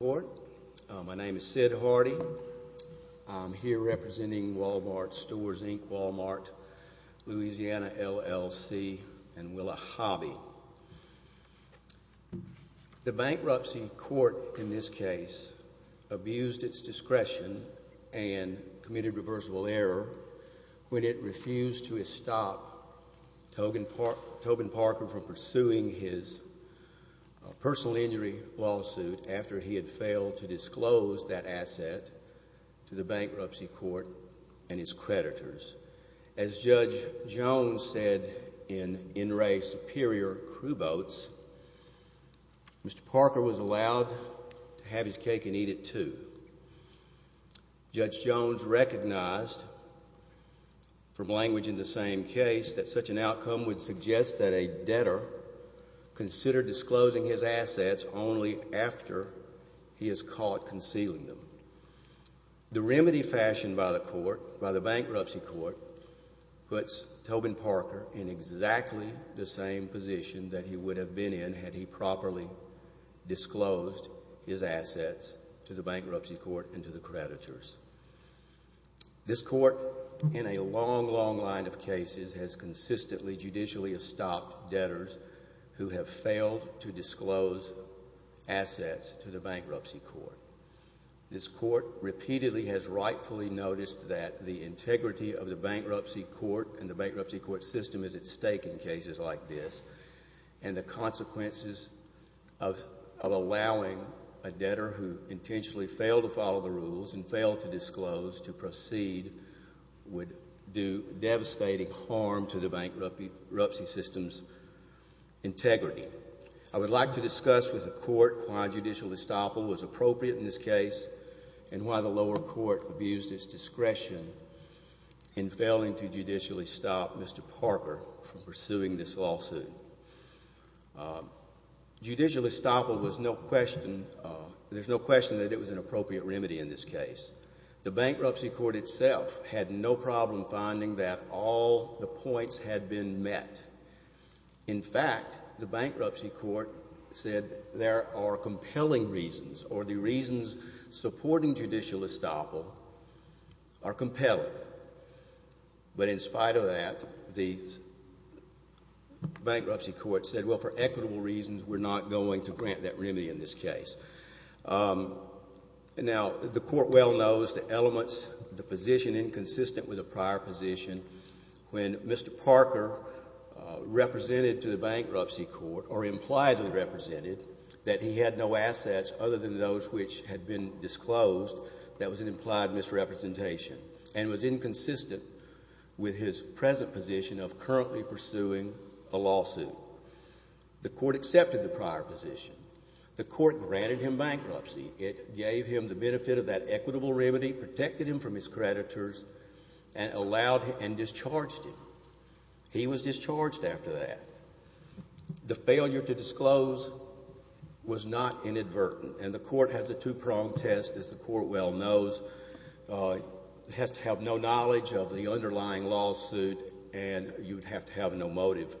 My name is Sid Hardy. I'm here representing Wal-Mart Stores, Inc., Wal-Mart, Louisiana, LLC, and Willa Hobby. The Bankruptcy Court in this case abused its discretion and committed reversible error when it refused to stop Tobin Parker from pursuing his personal injury lawsuit after he had failed to disclose that asset to the Bankruptcy Court and its creditors. As Judge Jones said in NRA Superior Crew Boats, Mr. Parker was allowed to have his cake and eat it too. Judge Jones recognized from language in the same case that such an outcome would suggest that a debtor consider disclosing his assets only after he is caught concealing them. The remedy fashioned by the court, by the Bankruptcy Court, puts Tobin Parker in exactly the same position that he would have been in had he properly disclosed his assets to the Bankruptcy Court and to the creditors. This court, in a long, long line of cases, has consistently judicially stopped debtors who have failed to disclose assets to the Bankruptcy Court. This court repeatedly has rightfully noticed that the integrity of the Bankruptcy Court and the Bankruptcy Court system is at stake in cases like this, and the consequences of allowing a debtor who intentionally failed to follow the rules and failed to disclose to proceed would do devastating harm to the Bankruptcy System's integrity. I would like to discuss with the court why judicial estoppel was appropriate in this case and why the lower court abused its discretion in failing to judicially stop Mr. Parker from pursuing this lawsuit. Judicial estoppel was no question, there's no question that it was an appropriate remedy in this case. The Bankruptcy Court itself had no problem finding that all the points had been met. In fact, the Bankruptcy Court said there are compelling reasons or the reasons supporting judicial estoppel are compelling. But in spite of that, the Bankruptcy Court said, well, for equitable reasons, we're not going to grant that remedy in this case. Now, the court well knows the elements, the position inconsistent with the prior position when Mr. Parker represented to the Bankruptcy Court or impliedly represented that he had no assets other than those which had been disclosed, that was an implied misrepresentation and was inconsistent with his present position of currently pursuing a lawsuit. The court accepted the prior position. The court granted him bankruptcy. It gave him the benefit of that equitable remedy, protected him from his creditors, and allowed and discharged him. He was discharged after that. The failure to disclose was not inadvertent. And the court has a two-pronged test, as the court well knows. It has to have no knowledge of the underlying lawsuit, and you would have to have no motive.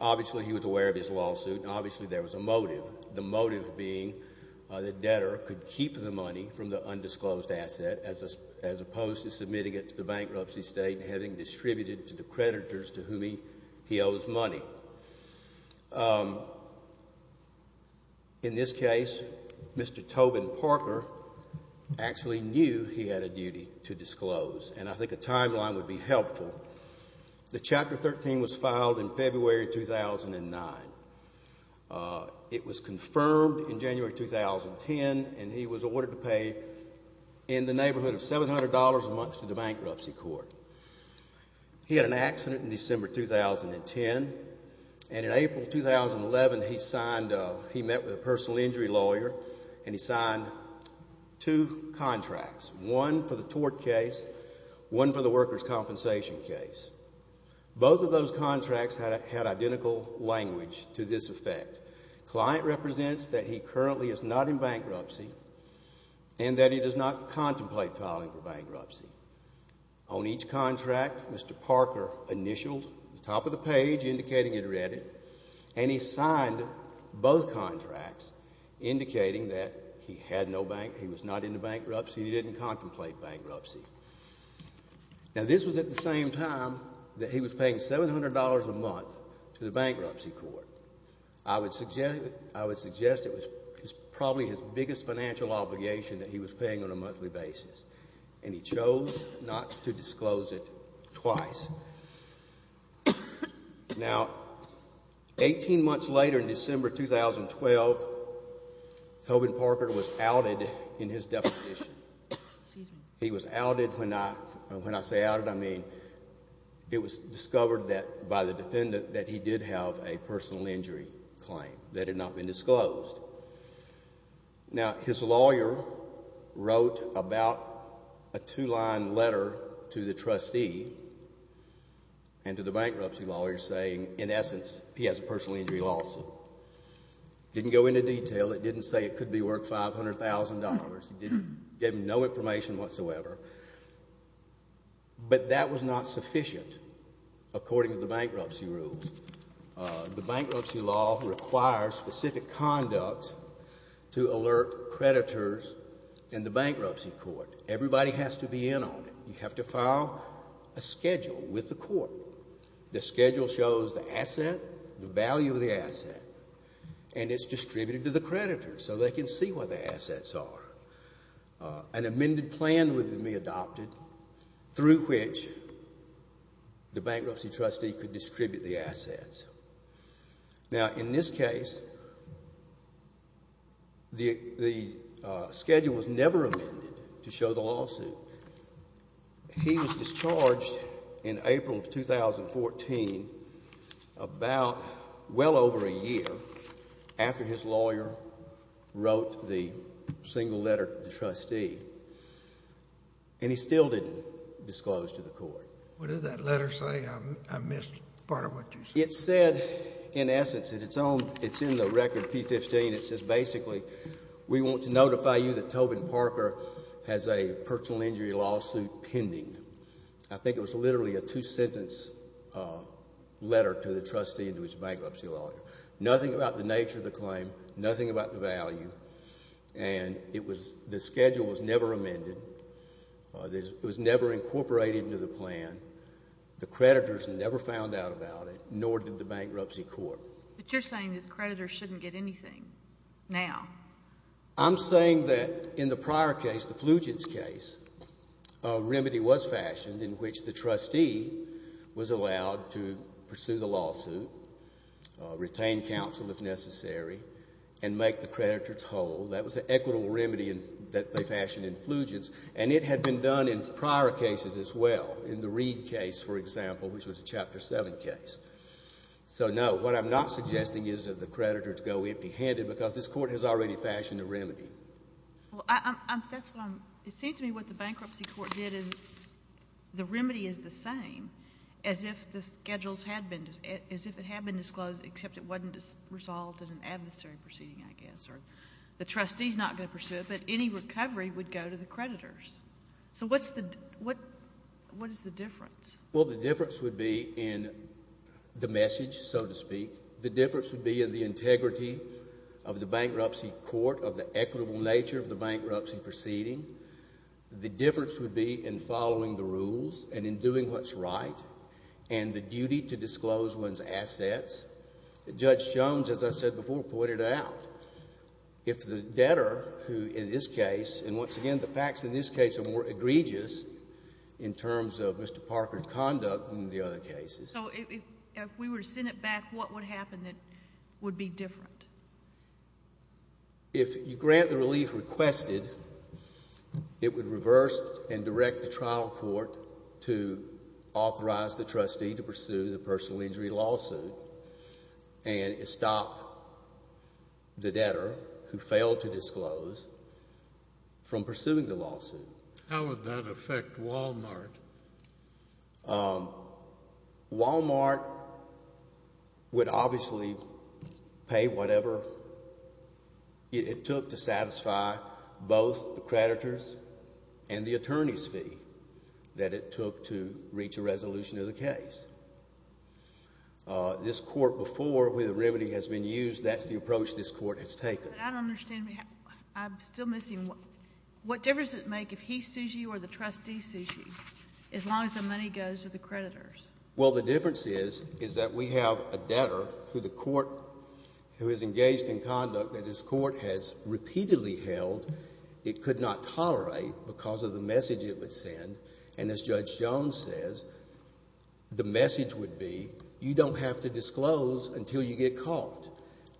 Obviously, he was aware of his lawsuit, and obviously there was a motive, the motive being that debtor could keep the money from the undisclosed asset as opposed to submitting it to the bankruptcy state and having distributed to the creditors to whom he owes money. In this case, Mr. Tobin Parker actually knew he had a duty to disclose, and I think a timeline would be helpful. The Chapter 13 was filed in February 2009. It was confirmed in January 2010, and he was ordered to pay in the neighborhood of $700 a month to the bankruptcy court. He had an accident in December 2010, and in April 2011 he met with a personal injury lawyer and he signed two contracts, one for the tort case, one for the workers' compensation case. Both of those contracts had identical language to this effect. Client represents that he currently is not in bankruptcy and that he does not contemplate filing for bankruptcy. On each contract, Mr. Parker initialed the top of the page indicating he'd read it, and he signed both contracts indicating that he was not in bankruptcy, he didn't contemplate bankruptcy. Now, this was at the same time that he was paying $700 a month to the bankruptcy court. I would suggest it was probably his biggest financial obligation that he was paying on a monthly basis, and he chose not to disclose it twice. Now, 18 months later in December 2012, Tobin Parker was outed in his deposition. He was outed when I say outed, I mean it was discovered by the defendant that he did have a personal injury claim that had not been disclosed. Now, his lawyer wrote about a two-line letter to the trustee and to the bankruptcy lawyer saying, in essence, he has a personal injury lawsuit. It didn't go into detail. It didn't say it could be worth $500,000. It gave him no information whatsoever. But that was not sufficient according to the bankruptcy rules. The bankruptcy law requires specific conduct to alert creditors and the bankruptcy court. Everybody has to be in on it. You have to file a schedule with the court. And it's distributed to the creditors so they can see where the assets are. An amended plan would be adopted through which the bankruptcy trustee could distribute the assets. Now, in this case, the schedule was never amended to show the lawsuit. He was discharged in April of 2014 about well over a year after his lawyer wrote the single letter to the trustee, and he still didn't disclose to the court. What did that letter say? I missed part of what you said. It said, in essence, it's in the record P-15. It says, basically, we want to notify you that Tobin Parker has a personal injury lawsuit pending. I think it was literally a two-sentence letter to the trustee and to his bankruptcy lawyer. Nothing about the nature of the claim. Nothing about the value. And the schedule was never amended. It was never incorporated into the plan. The creditors never found out about it, nor did the bankruptcy court. But you're saying that the creditors shouldn't get anything now. I'm saying that in the prior case, the Flugents case, a remedy was fashioned in which the trustee was allowed to pursue the lawsuit, retain counsel if necessary, and make the creditors whole. That was an equitable remedy that they fashioned in Flugents, and it had been done in prior cases as well, in the Reed case, for example, which was a Chapter 7 case. So, no, what I'm not suggesting is that the creditors go empty-handed because this court has already fashioned a remedy. Well, that's what I'm – it seems to me what the bankruptcy court did is the remedy is the same as if the schedules had been – as if it had been disclosed, except it wasn't resolved in an adversary proceeding, I guess, or the trustee's not going to pursue it, but any recovery would go to the creditors. So what's the – what is the difference? Well, the difference would be in the message, so to speak. The difference would be in the integrity of the bankruptcy court, of the equitable nature of the bankruptcy proceeding. The difference would be in following the rules and in doing what's right and the duty to disclose one's assets. Judge Jones, as I said before, pointed out, if the debtor, who in this case – and once again, the facts in this case are more egregious in terms of Mr. Parker's conduct than the other cases. So if we were to send it back, what would happen that would be different? If you grant the relief requested, it would reverse and direct the trial court to authorize the trustee to pursue the personal injury lawsuit and stop the debtor who failed to disclose from pursuing the lawsuit. How would that affect Walmart? Walmart would obviously pay whatever it took to satisfy both the creditors and the attorney's fee that it took to reach a resolution of the case. This court before, where the remedy has been used, that's the approach this court has taken. But I don't understand. I'm still missing. What difference does it make if he sues you or the trustee sues you, as long as the money goes to the creditors? Well, the difference is, is that we have a debtor who the court – who is engaged in conduct that this court has repeatedly held it could not tolerate because of the message it would send. And as Judge Jones says, the message would be you don't have to disclose until you get caught.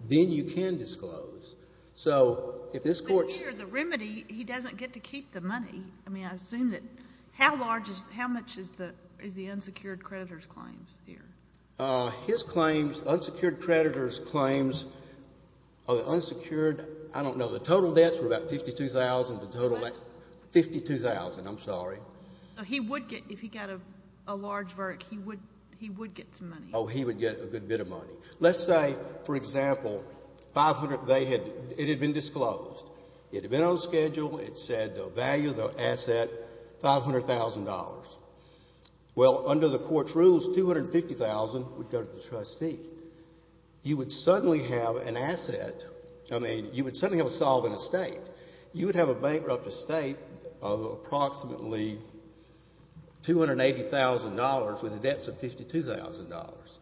Then you can disclose. So if this court – But here, the remedy, he doesn't get to keep the money. I mean, I assume that – how large is – how much is the unsecured creditor's claims here? His claims, unsecured creditor's claims, unsecured – I don't know. The total debts were about $52,000. What? $52,000. I'm sorry. So he would get – if he got a large vert, he would get some money. Oh, he would get a good bit of money. Let's say, for example, 500 – they had – it had been disclosed. It had been on schedule. It said the value of the asset, $500,000. Well, under the court's rules, $250,000 would go to the trustee. You would suddenly have an asset – I mean, you would suddenly have a solvent estate. You would have a bankrupt estate of approximately $280,000 with debts of $52,000.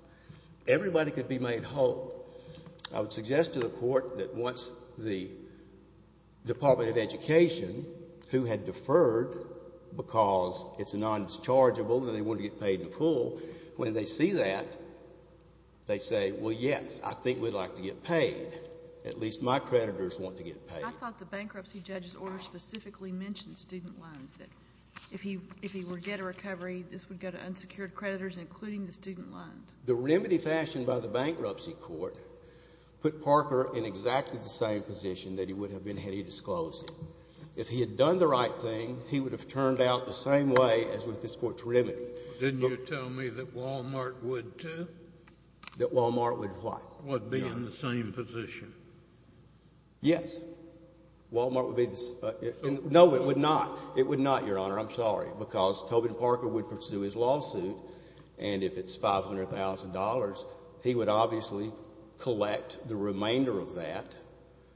Everybody could be made whole. I would suggest to the Court that once the Department of Education, who had deferred because it's non-dischargeable and they wanted to get paid in full, when they see that, they say, well, yes, I think we'd like to get paid. At least my creditors want to get paid. I thought the bankruptcy judge's order specifically mentioned student loans, that if he were to get a recovery, this would go to unsecured creditors, including the student loans. The remedy fashioned by the bankruptcy court put Parker in exactly the same position that he would have been had he disclosed it. If he had done the right thing, he would have turned out the same way as with this Court's remedy. Didn't you tell me that Walmart would, too? That Walmart would what? Would be in the same position. Yes. Walmart would be the same. No, it would not. It would not, Your Honor. I'm sorry. Because Tobin Parker would pursue his lawsuit, and if it's $500,000, he would obviously collect the remainder of that.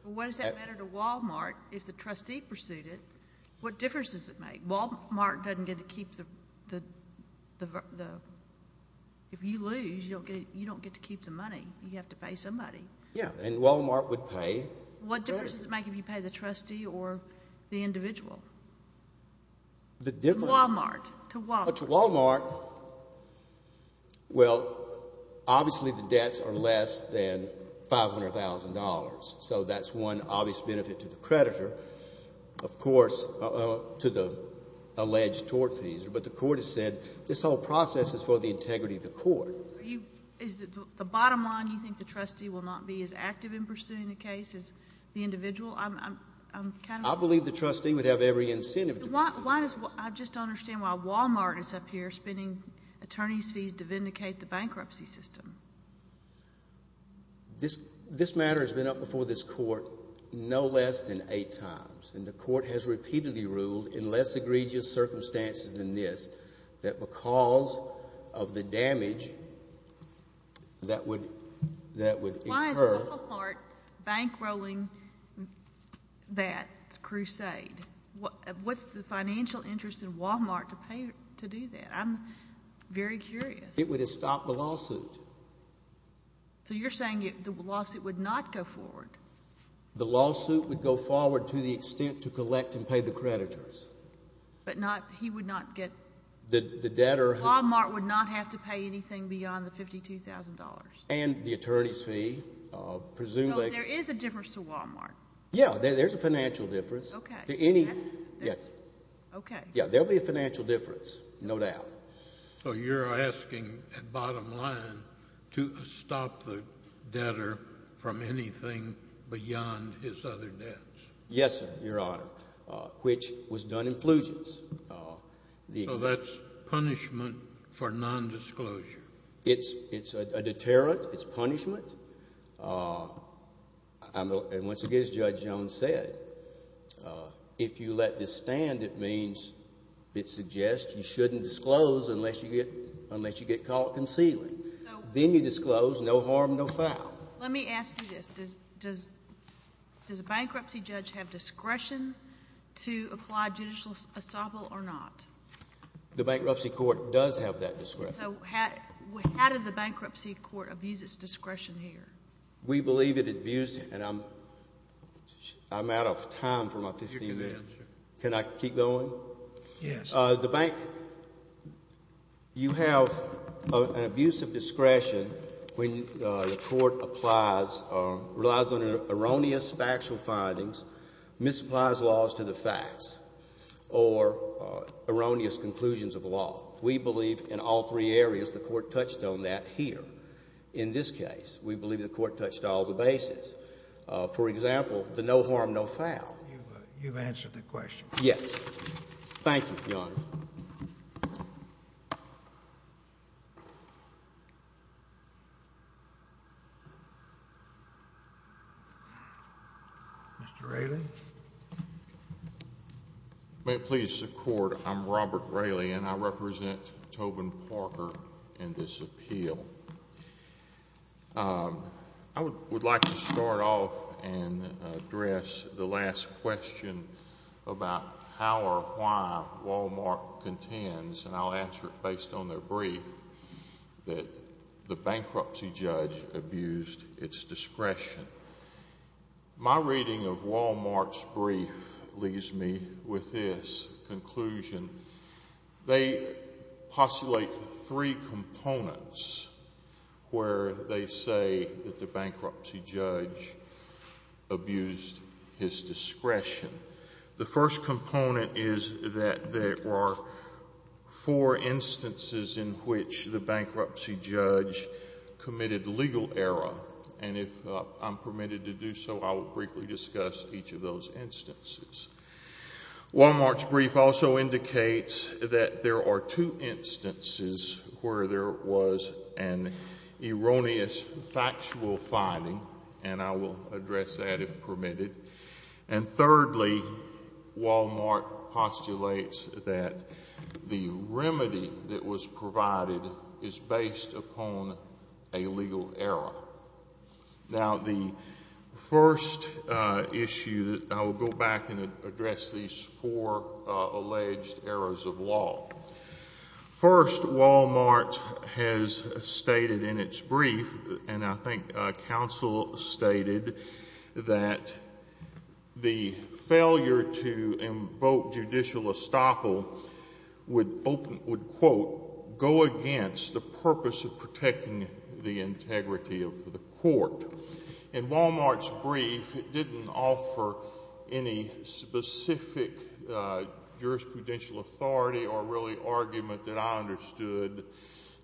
What does that matter to Walmart if the trustee pursued it? What difference does it make? Walmart doesn't get to keep the – if you lose, you don't get to keep the money. You have to pay somebody. Yes, and Walmart would pay the creditor. What difference does it make if you pay the trustee or the individual? The difference? Walmart. To Walmart. To Walmart, well, obviously the debts are less than $500,000, so that's one obvious benefit to the creditor. Of course, to the alleged tort fees. The bottom line, you think the trustee will not be as active in pursuing the case as the individual? I believe the trustee would have every incentive to pursue the case. I just don't understand why Walmart is up here spending attorney's fees to vindicate the bankruptcy system. This matter has been up before this court no less than eight times, and the court has repeatedly ruled in less egregious circumstances than this that because of the damage that would occur. Why is Walmart bankrolling that crusade? What's the financial interest in Walmart to pay to do that? I'm very curious. It would have stopped the lawsuit. So you're saying the lawsuit would not go forward? The lawsuit would go forward to the extent to collect and pay the creditors. But he would not get? The debtor. Walmart would not have to pay anything beyond the $52,000? And the attorney's fee, presumably. So there is a difference to Walmart? Yes, there's a financial difference. Okay. Yes. Okay. Yes, there would be a financial difference, no doubt. So you're asking, bottom line, to stop the debtor from anything beyond his other debts? Yes, Your Honor, which was done in fusions. So that's punishment for nondisclosure? It's a deterrent. It's punishment. And once again, as Judge Jones said, if you let this stand, it means it suggests you shouldn't disclose unless you get caught concealing. Then you disclose, no harm, no foul. Let me ask you this. Does a bankruptcy judge have discretion to apply judicial estoppel or not? The bankruptcy court does have that discretion. So how did the bankruptcy court abuse its discretion here? We believe it abused it, and I'm out of time for my 15 minutes. Can I keep going? Yes. The bank, you have an abuse of discretion when the court applies or relies on erroneous factual findings, misapplies laws to the facts, or erroneous conclusions of law. We believe in all three areas the court touched on that here. In this case, we believe the court touched all the bases. For example, the no harm, no foul. You've answered the question. Yes. Thank you, Your Honor. Mr. Raley. May it please the Court, I'm Robert Raley, and I represent Tobin Parker in this appeal. I would like to start off and address the last question about how or why Wal-Mart contends, and I'll answer it based on their brief, that the bankruptcy judge abused its discretion. My reading of Wal-Mart's brief leaves me with this conclusion. They postulate three components where they say that the bankruptcy judge abused his discretion. The first component is that there were four instances in which the bankruptcy judge committed legal error, and if I'm permitted to do so, I will briefly discuss each of those instances. Wal-Mart's brief also indicates that there are two instances where there was an erroneous factual finding, and I will address that if permitted. And thirdly, Wal-Mart postulates that the remedy that was provided is based upon a legal error. Now, the first issue, I will go back and address these four alleged errors of law. First, Wal-Mart has stated in its brief, and I think counsel stated, that the failure to invoke judicial estoppel would, quote, go against the purpose of protecting the integrity of the court. In Wal-Mart's brief, it didn't offer any specific jurisprudential authority or really argument that I understood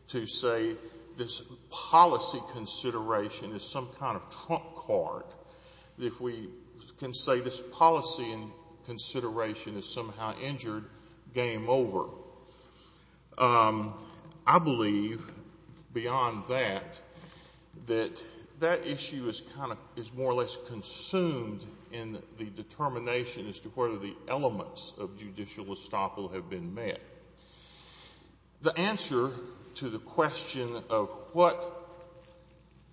to say this policy consideration is some kind of trump card. If we can say this policy consideration is somehow injured, game over. I believe, beyond that, that that issue is more or less consumed in the determination as to whether the elements of judicial estoppel have been met. The answer to the question of what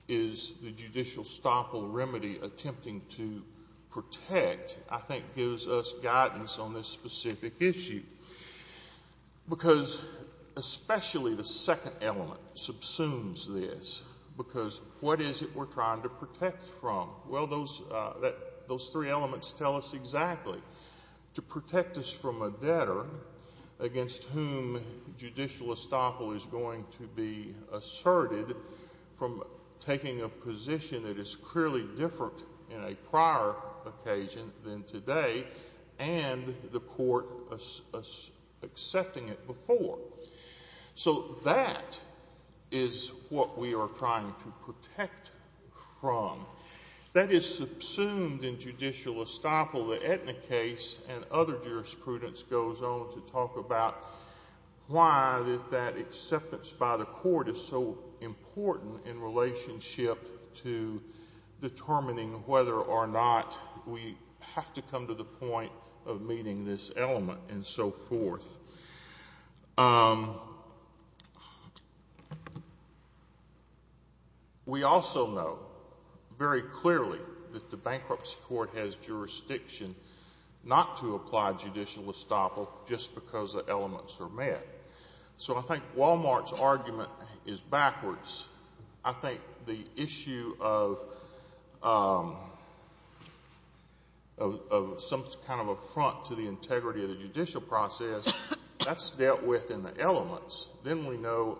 is the judicial estoppel remedy attempting to protect, I think, gives us guidance on this specific issue. Because especially the second element subsumes this. Because what is it we're trying to protect from? Well, those three elements tell us exactly. To protect us from a debtor against whom judicial estoppel is going to be asserted from taking a position that is clearly different in a prior occasion than today and the court accepting it before. So that is what we are trying to protect from. That is subsumed in judicial estoppel. The Aetna case and other jurisprudence goes on to talk about why that acceptance by the court is so important in relationship to determining whether or not we have to come to the point of meeting this element and so forth. We also know very clearly that the bankruptcy court has jurisdiction not to apply judicial estoppel just because the elements are met. So I think Wal-Mart's argument is backwards. I think the issue of some kind of a front to the integrity of the judicial process, that's dealt with in the elements. Then we know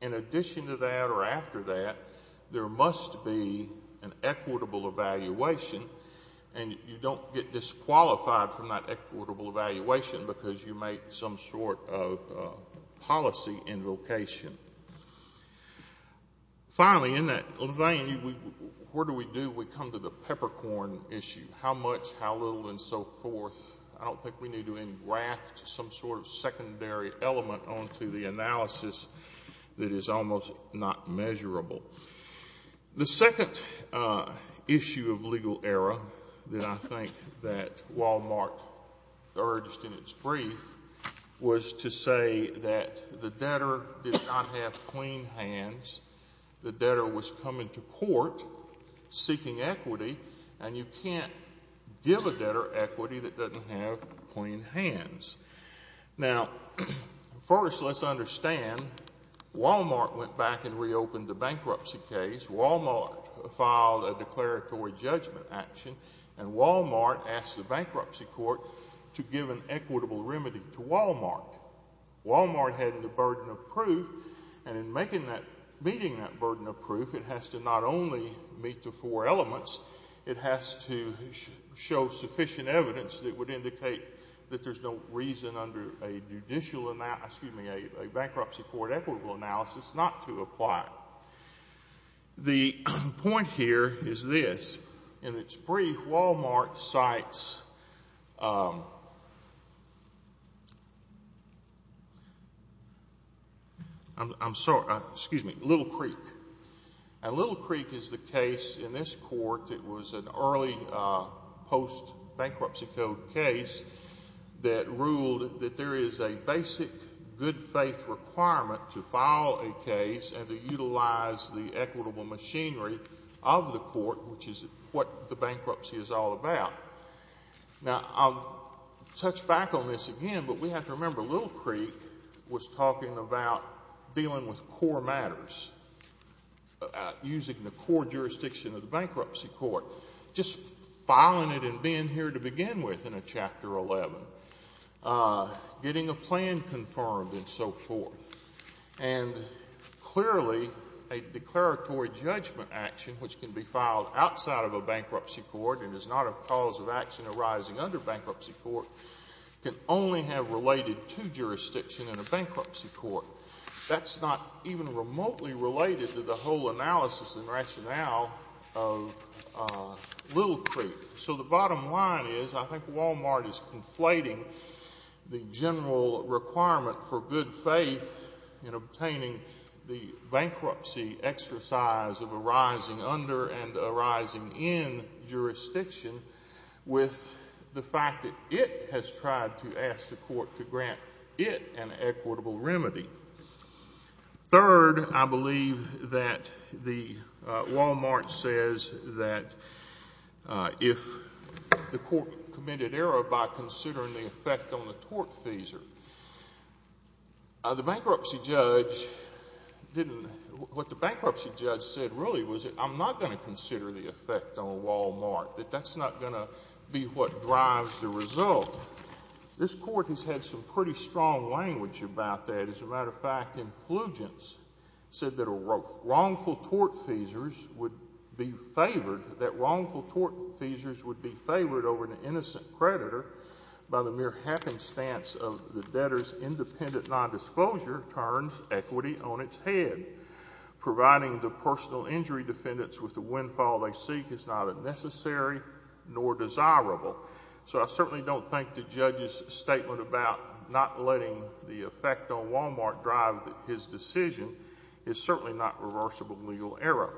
in addition to that or after that, there must be an equitable evaluation. And you don't get disqualified from that equitable evaluation because you make some sort of policy invocation. Finally, in that vein, where do we do? We come to the peppercorn issue, how much, how little, and so forth. I don't think we need to engraft some sort of secondary element onto the analysis that is almost not measurable. The second issue of legal error that I think that Wal-Mart urged in its brief was to say that the debtor did not have clean hands. The debtor was coming to court seeking equity, and you can't give a debtor equity that doesn't have clean hands. Now, first let's understand Wal-Mart went back and reopened the bankruptcy case. Wal-Mart filed a declaratory judgment action, and Wal-Mart asked the bankruptcy court to give an equitable remedy to Wal-Mart. Wal-Mart had the burden of proof, and in meeting that burden of proof, it has to not only meet the four elements, it has to show sufficient evidence that would indicate that there's no reason under a bankruptcy court equitable analysis not to apply. The point here is this. In its brief, Wal-Mart cites Little Creek. And Little Creek is the case in this court that was an early post-bankruptcy code case that ruled that there is a basic good faith requirement to file a case and to utilize the equitable machinery of the court, which is what the bankruptcy is all about. Now, I'll touch back on this again, but we have to remember Little Creek was talking about dealing with core matters, using the core jurisdiction of the bankruptcy court, just filing it and being here to begin with in a Chapter 11, getting a plan confirmed and so forth. And clearly a declaratory judgment action, which can be filed outside of a bankruptcy court and is not a cause of action arising under bankruptcy court, can only have related to jurisdiction in a bankruptcy court. That's not even remotely related to the whole analysis and rationale of Little Creek. So the bottom line is I think Wal-Mart is conflating the general requirement for good faith in obtaining the bankruptcy exercise of arising under and arising in jurisdiction with the fact that it has tried to ask the court to grant it an equitable remedy. Third, I believe that Wal-Mart says that if the court committed error by considering the effect on the tort fees, what the bankruptcy judge said really was I'm not going to consider the effect on Wal-Mart, that that's not going to be what drives the result. This court has had some pretty strong language about that. As a matter of fact, influgence said that wrongful tort fees would be favored over an innocent creditor by the mere happenstance of the debtor's independent nondisclosure turned equity on its head. Providing the personal injury defendants with the windfall they seek is neither necessary nor desirable. So I certainly don't think the judge's statement about not letting the effect on Wal-Mart drive his decision is certainly not reversible legal error.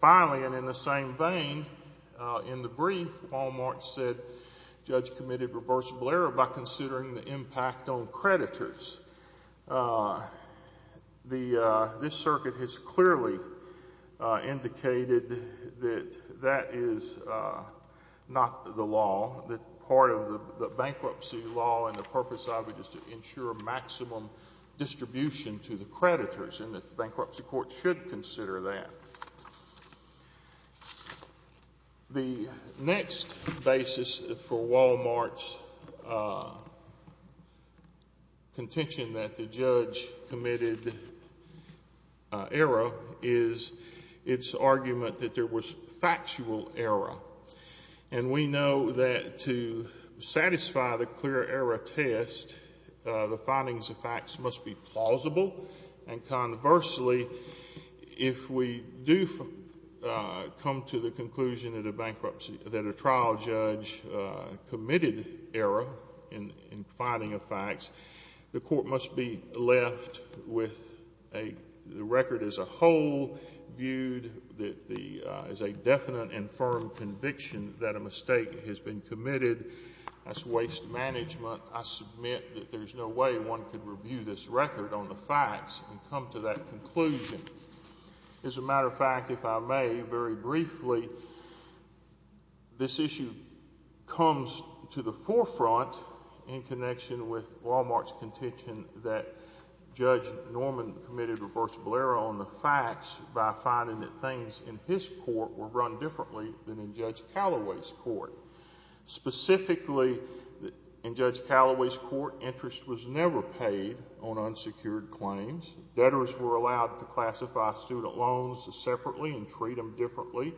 Finally, and in the same vein, in the brief, Wal-Mart said the judge committed reversible error by considering the impact on creditors. This circuit has clearly indicated that that is not the law, that part of the bankruptcy law and the purpose of it is to ensure maximum distribution to the creditors, and the bankruptcy court should consider that. The next basis for Wal-Mart's contention that the judge committed error is its argument that there was factual error. And we know that to satisfy the clear error test, the findings of facts must be plausible, and conversely, if we do come to the conclusion that a trial judge committed error in finding of facts, the court must be left with the record as a whole viewed as a definite and firm conviction that a mistake has been committed. That's waste management. I submit that there's no way one could review this record on the facts and come to that conclusion. As a matter of fact, if I may, very briefly, this issue comes to the forefront in connection with Wal-Mart's contention that Judge Norman committed reversible error on the facts by finding that things in his court were run differently than in Judge Callaway's court. Specifically, in Judge Callaway's court, interest was never paid on unsecured claims. Debtors were allowed to classify student loans separately and treat them differently,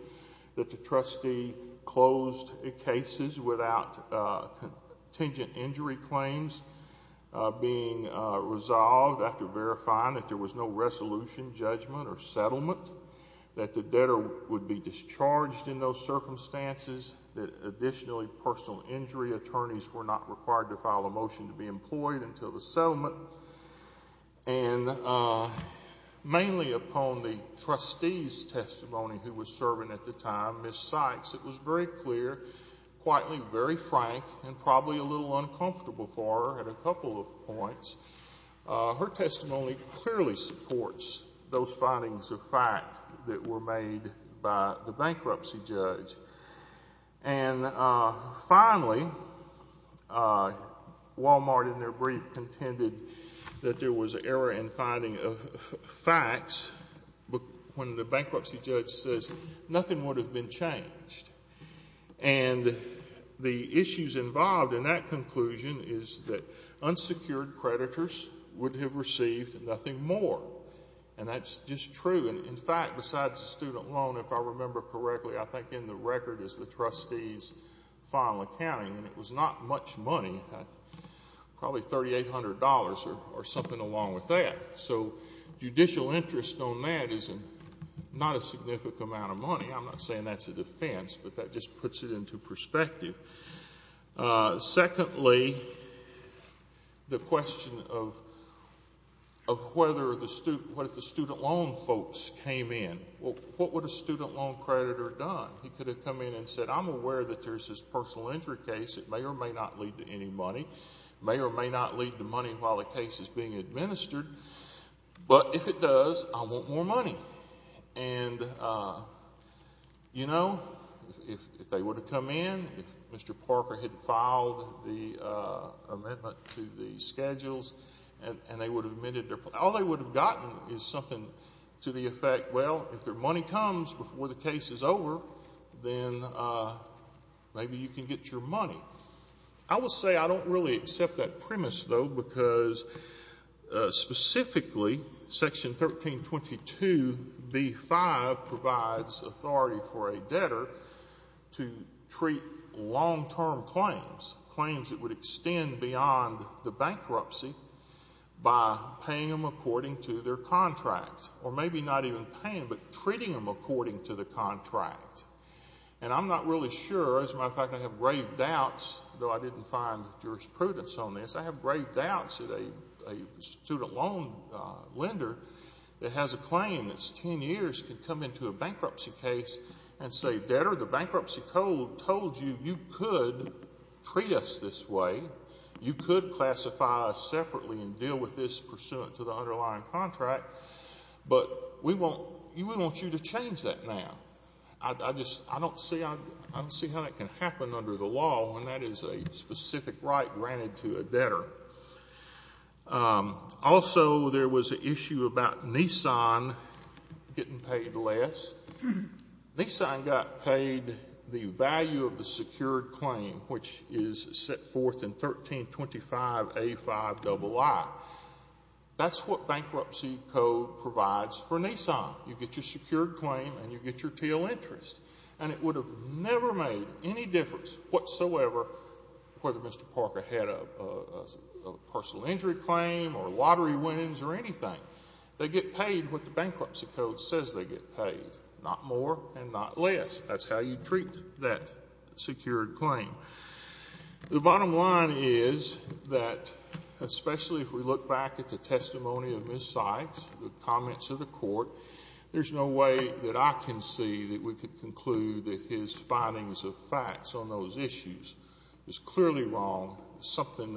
that the trustee closed the cases without contingent injury claims being resolved after verifying that there was no resolution, judgment or settlement, that the debtor would be discharged in those circumstances, that additionally personal injury attorneys were not required to file a motion to be employed until the settlement. And mainly upon the trustee's testimony who was serving at the time, Ms. Sykes, it was very clear, quietly, very frank, and probably a little uncomfortable for her at a couple of points. Her testimony clearly supports those findings of fact that were made by the bankruptcy judge. And finally, Wal-Mart in their brief contended that there was error in finding facts when the bankruptcy judge says nothing would have been changed. And the issues involved in that conclusion is that unsecured creditors would have received nothing more. And that's just true. In fact, besides the student loan, if I remember correctly, I think in the record is the trustee's final accounting, and it was not much money, probably $3,800 or something along with that. So judicial interest on that is not a significant amount of money. I'm not saying that's a defense, but that just puts it into perspective. Secondly, the question of whether the student loan folks came in. What would a student loan creditor have done? He could have come in and said, I'm aware that there's this personal injury case. It may or may not lead to any money. It may or may not lead to money while the case is being administered. But if it does, I want more money. And, you know, if they would have come in, if Mr. Parker had filed the amendment to the schedules and they would have admitted their plan, all they would have gotten is something to the effect, well, if their money comes before the case is over, then maybe you can get your money. I will say I don't really accept that premise, though, because specifically Section 1322b-5 provides authority for a debtor to treat long-term claims, claims that would extend beyond the bankruptcy, by paying them according to their contract or maybe not even paying, but treating them according to the contract. And I'm not really sure. As a matter of fact, I have grave doubts, though I didn't find jurisprudence on this. I have grave doubts that a student loan lender that has a claim that's 10 years can come into a bankruptcy case and say, Debtor, the bankruptcy code told you you could treat us this way, you could classify us separately and deal with this pursuant to the underlying contract, but we want you to change that now. I just don't see how that can happen under the law when that is a specific right granted to a debtor. Also, there was an issue about Nissan getting paid less. Nissan got paid the value of the secured claim, which is set forth in 1325a-5ii. That's what bankruptcy code provides for Nissan. You get your secured claim and you get your tail interest. And it would have never made any difference whatsoever whether Mr. Parker had a personal injury claim or lottery wins or anything. They get paid what the bankruptcy code says they get paid, not more and not less. That's how you treat that secured claim. The bottom line is that especially if we look back at the testimony of Ms. Sykes, the comments of the Court, there's no way that I can see that we could conclude that his findings of facts on those issues is clearly wrong. Something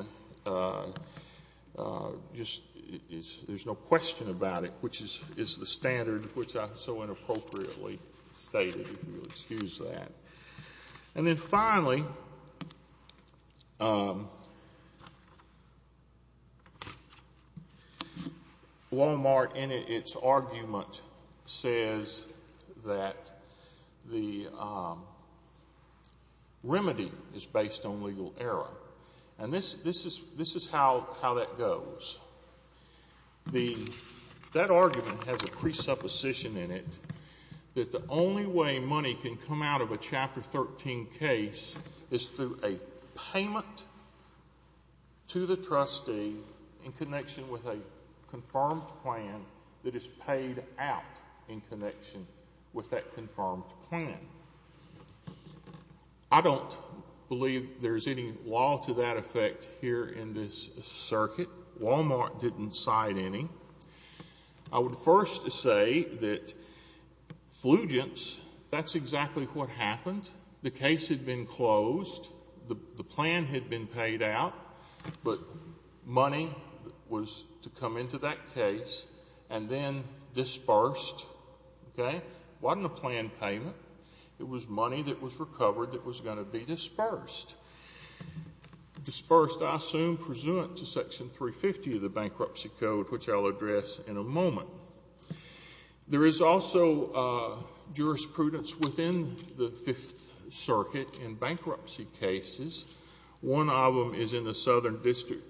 just is, there's no question about it, which is the standard which I so inappropriately stated, if you'll excuse that. And then finally, Walmart in its argument says that the remedy is based on legal error. And this is how that goes. That argument has a presupposition in it that the only way money can come out of a Chapter 13 case is through a payment to the trustee in connection with a confirmed plan that is paid out in connection with that confirmed plan. I don't believe there's any law to that effect here in this circuit. Walmart didn't cite any. I would first say that Flugents, that's exactly what happened. The case had been closed. The plan had been paid out, but money was to come into that case and then dispersed. Okay? It wasn't a planned payment. It was money that was recovered that was going to be dispersed. Dispersed, I assume, pursuant to Section 350 of the Bankruptcy Code, which I'll address in a moment. There is also jurisprudence within the Fifth Circuit in bankruptcy cases. One of them is in the Southern District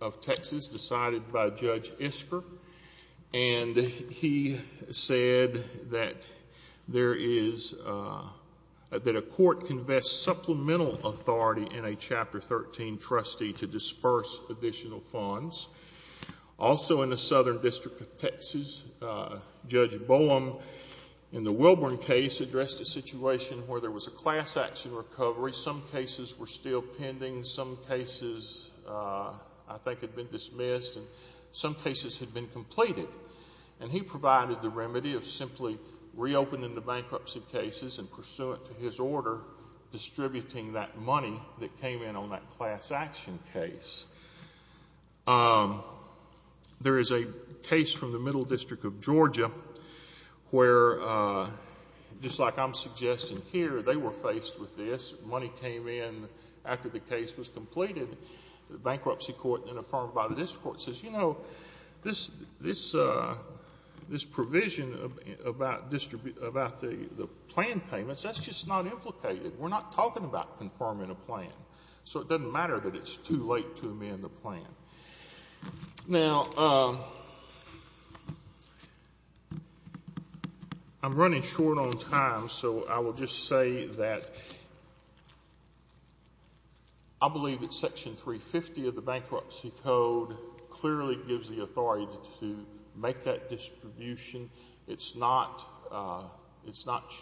of Texas decided by Judge Isker, and he said that a court can vest supplemental authority in a Chapter 13 trustee to disperse additional funds. Also in the Southern District of Texas, Judge Boehm, in the Wilburn case, addressed a situation where there was a class action recovery. Some cases were still pending. Some cases, I think, had been dismissed. Some cases had been completed. He provided the remedy of simply reopening the bankruptcy cases and pursuant to his order distributing that money that came in on that class action case. There is a case from the Middle District of Georgia where, just like I'm suggesting here, they were faced with this. Money came in after the case was completed. The bankruptcy court, then affirmed by the district court, says, you know, this provision about the plan payments, that's just not implicated. We're not talking about confirming a plan. So it doesn't matter that it's too late to amend the plan. Now, I'm running short on time, so I will just say that I believe that Section 350 of the Bankruptcy Code clearly gives the authority to make that distribution. It's not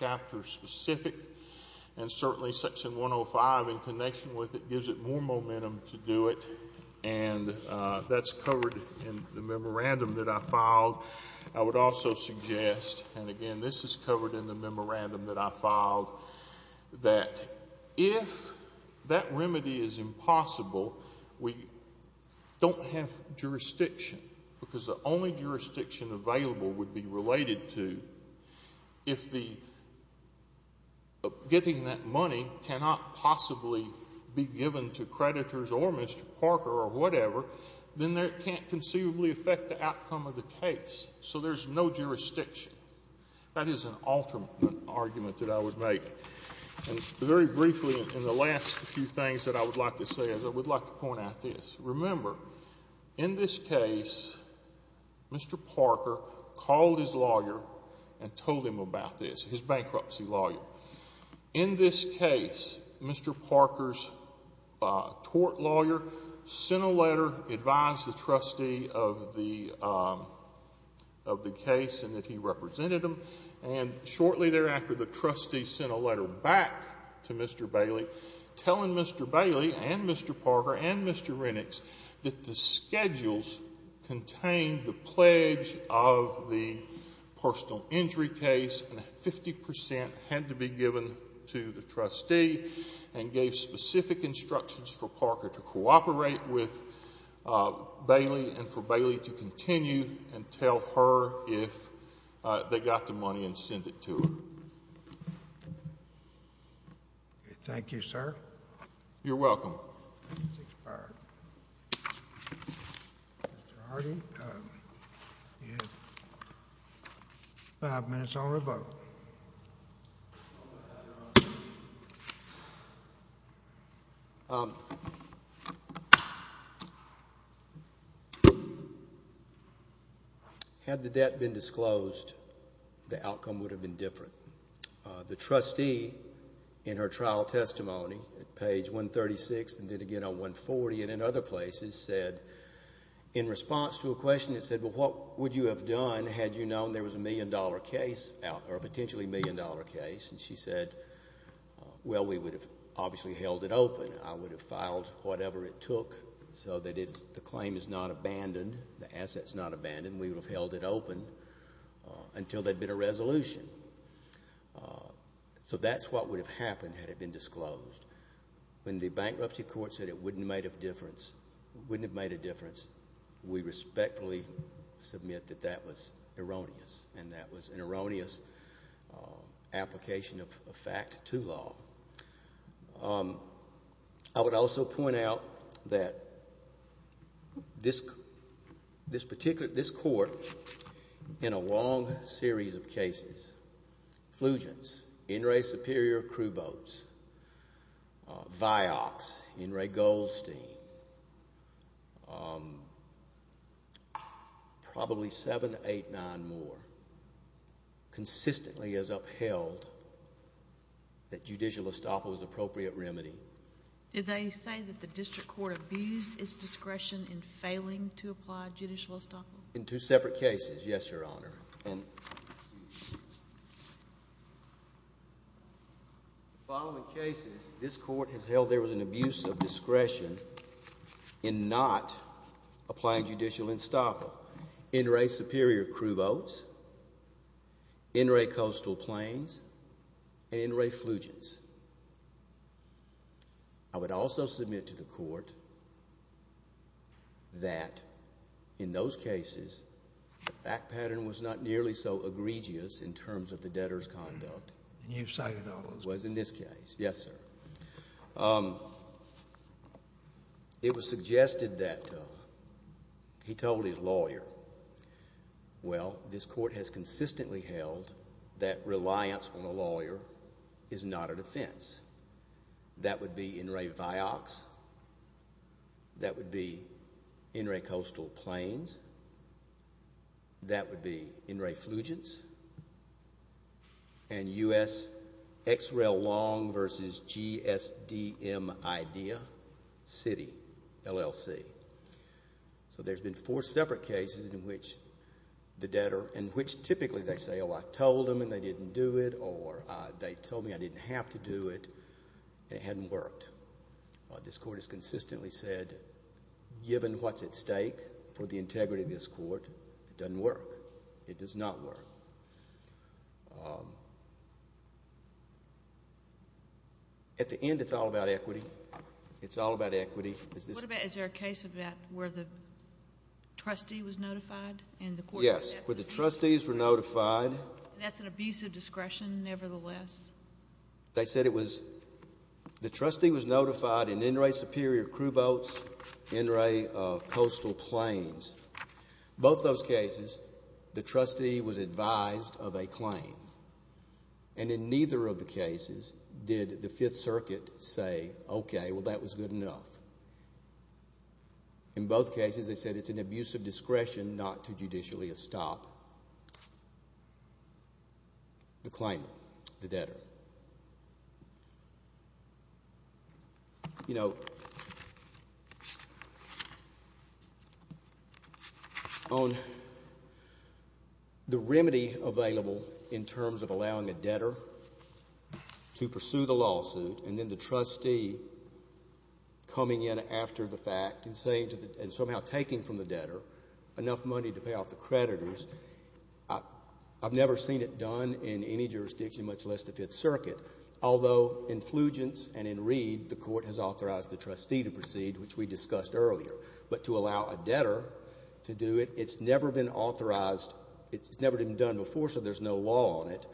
chapter specific. And certainly Section 105, in connection with it, gives it more momentum to do it and that's covered in the memorandum that I filed. I would also suggest, and again, this is covered in the memorandum that I filed, that if that remedy is impossible, we don't have jurisdiction because the only jurisdiction available would be related to If getting that money cannot possibly be given to creditors or Mr. Parker or whatever, then it can't conceivably affect the outcome of the case. So there's no jurisdiction. That is an alternate argument that I would make. Very briefly, in the last few things that I would like to say is I would like to point out this. Remember, in this case, Mr. Parker called his lawyer and told him about this, his bankruptcy lawyer. In this case, Mr. Parker's tort lawyer sent a letter, advised the trustee of the case and that he represented him, and shortly thereafter, the trustee sent a letter back to Mr. Bailey telling Mr. Bailey and Mr. Parker and Mr. Rennicks that the schedules contained the pledge of the personal injury case and that 50% had to be given to the trustee and gave specific instructions for Parker to cooperate with Bailey and for Bailey to continue and tell her if they got the money and sent it to her. Thank you. Thank you, sir. You're welcome. Five minutes on revoke. Okay. Had the debt been disclosed, the outcome would have been different. The trustee, in her trial testimony at page 136 and then again on 140 and in other places, said in response to a question, it said, well, what would you have done had you known there was a million-dollar case out there, a potentially million-dollar case? And she said, well, we would have obviously held it open. I would have filed whatever it took so that the claim is not abandoned, the asset is not abandoned. We would have held it open until there had been a resolution. So that's what would have happened had it been disclosed. When the bankruptcy court said it wouldn't have made a difference, we respectfully submit that that was erroneous and that was an erroneous application of a fact to law. I would also point out that this court, in a long series of cases, Flugents, NRA Superior crew boats, Vioxx, NRA Goldstein, probably seven, eight, nine more, consistently has upheld that judicial estoppel is an appropriate remedy. Did they say that the district court abused its discretion in failing to apply judicial estoppel? In two separate cases, yes, Your Honor. In the following cases, this court has held there was an abuse of discretion in not applying judicial estoppel. NRA Superior crew boats, NRA Coastal Plains, and NRA Flugents. I would also submit to the court that in those cases, the fact pattern was not nearly so egregious in terms of the debtor's conduct. And you've cited all of them. It was in this case. Yes, sir. It was suggested that he told his lawyer, Well, this court has consistently held that reliance on a lawyer is not a defense. That would be NRA Vioxx. That would be NRA Coastal Plains. That would be NRA Flugents. And U.S. X-Rail Long versus GSDM-IDEA City, LLC. So there's been four separate cases in which the debtor, in which typically they say, Oh, I told them and they didn't do it, or they told me I didn't have to do it, and it hadn't worked. This court has consistently said, given what's at stake for the integrity of this court, it doesn't work. It does not work. At the end, it's all about equity. It's all about equity. What about, is there a case of that where the trustee was notified? Yes, where the trustees were notified. That's an abuse of discretion, nevertheless. They said it was, the trustee was notified in NRA Superior Crew Boats, NRA Coastal Plains. Both those cases, the trustee was advised of a claim. And in neither of the cases did the Fifth Circuit say, Okay, well, that was good enough. In both cases, they said it's an abuse of discretion not to judicially stop the claimant, the debtor. You know, on the remedy available in terms of allowing a debtor to pursue the lawsuit and then the trustee coming in after the fact and somehow taking from the debtor enough money to pay off the creditors, I've never seen it done in any jurisdiction, much less the Fifth Circuit. Although in Flugents and in Reed, the court has authorized the trustee to proceed, which we discussed earlier. But to allow a debtor to do it, it's never been authorized. It's never been done before, so there's no law on it.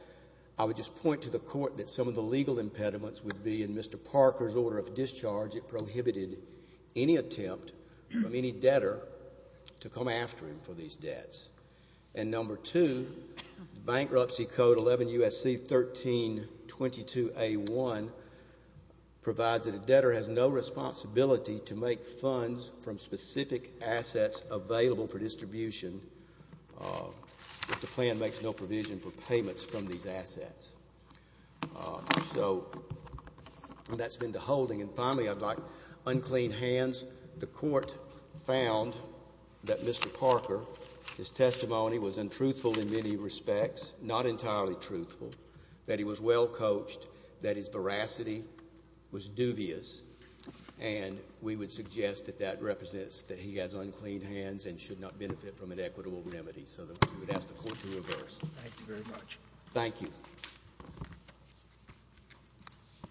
I would just point to the court that some of the legal impediments would be in Mr. Parker's order of discharge. It prohibited any attempt from any debtor to come after him for these debts. And number two, the Bankruptcy Code 11 U.S.C. 1322A1 provides that a debtor has no responsibility to make funds from specific assets available for distribution if the plan makes no provision for payments from these assets. So that's been the holding. And finally, I've got unclean hands. The court found that Mr. Parker, his testimony was untruthful in many respects, not entirely truthful, that he was well coached, that his veracity was dubious, and we would suggest that that represents that he has unclean hands and should not benefit from an equitable remedy. So we would ask the court to reverse. Thank you very much. Thank you.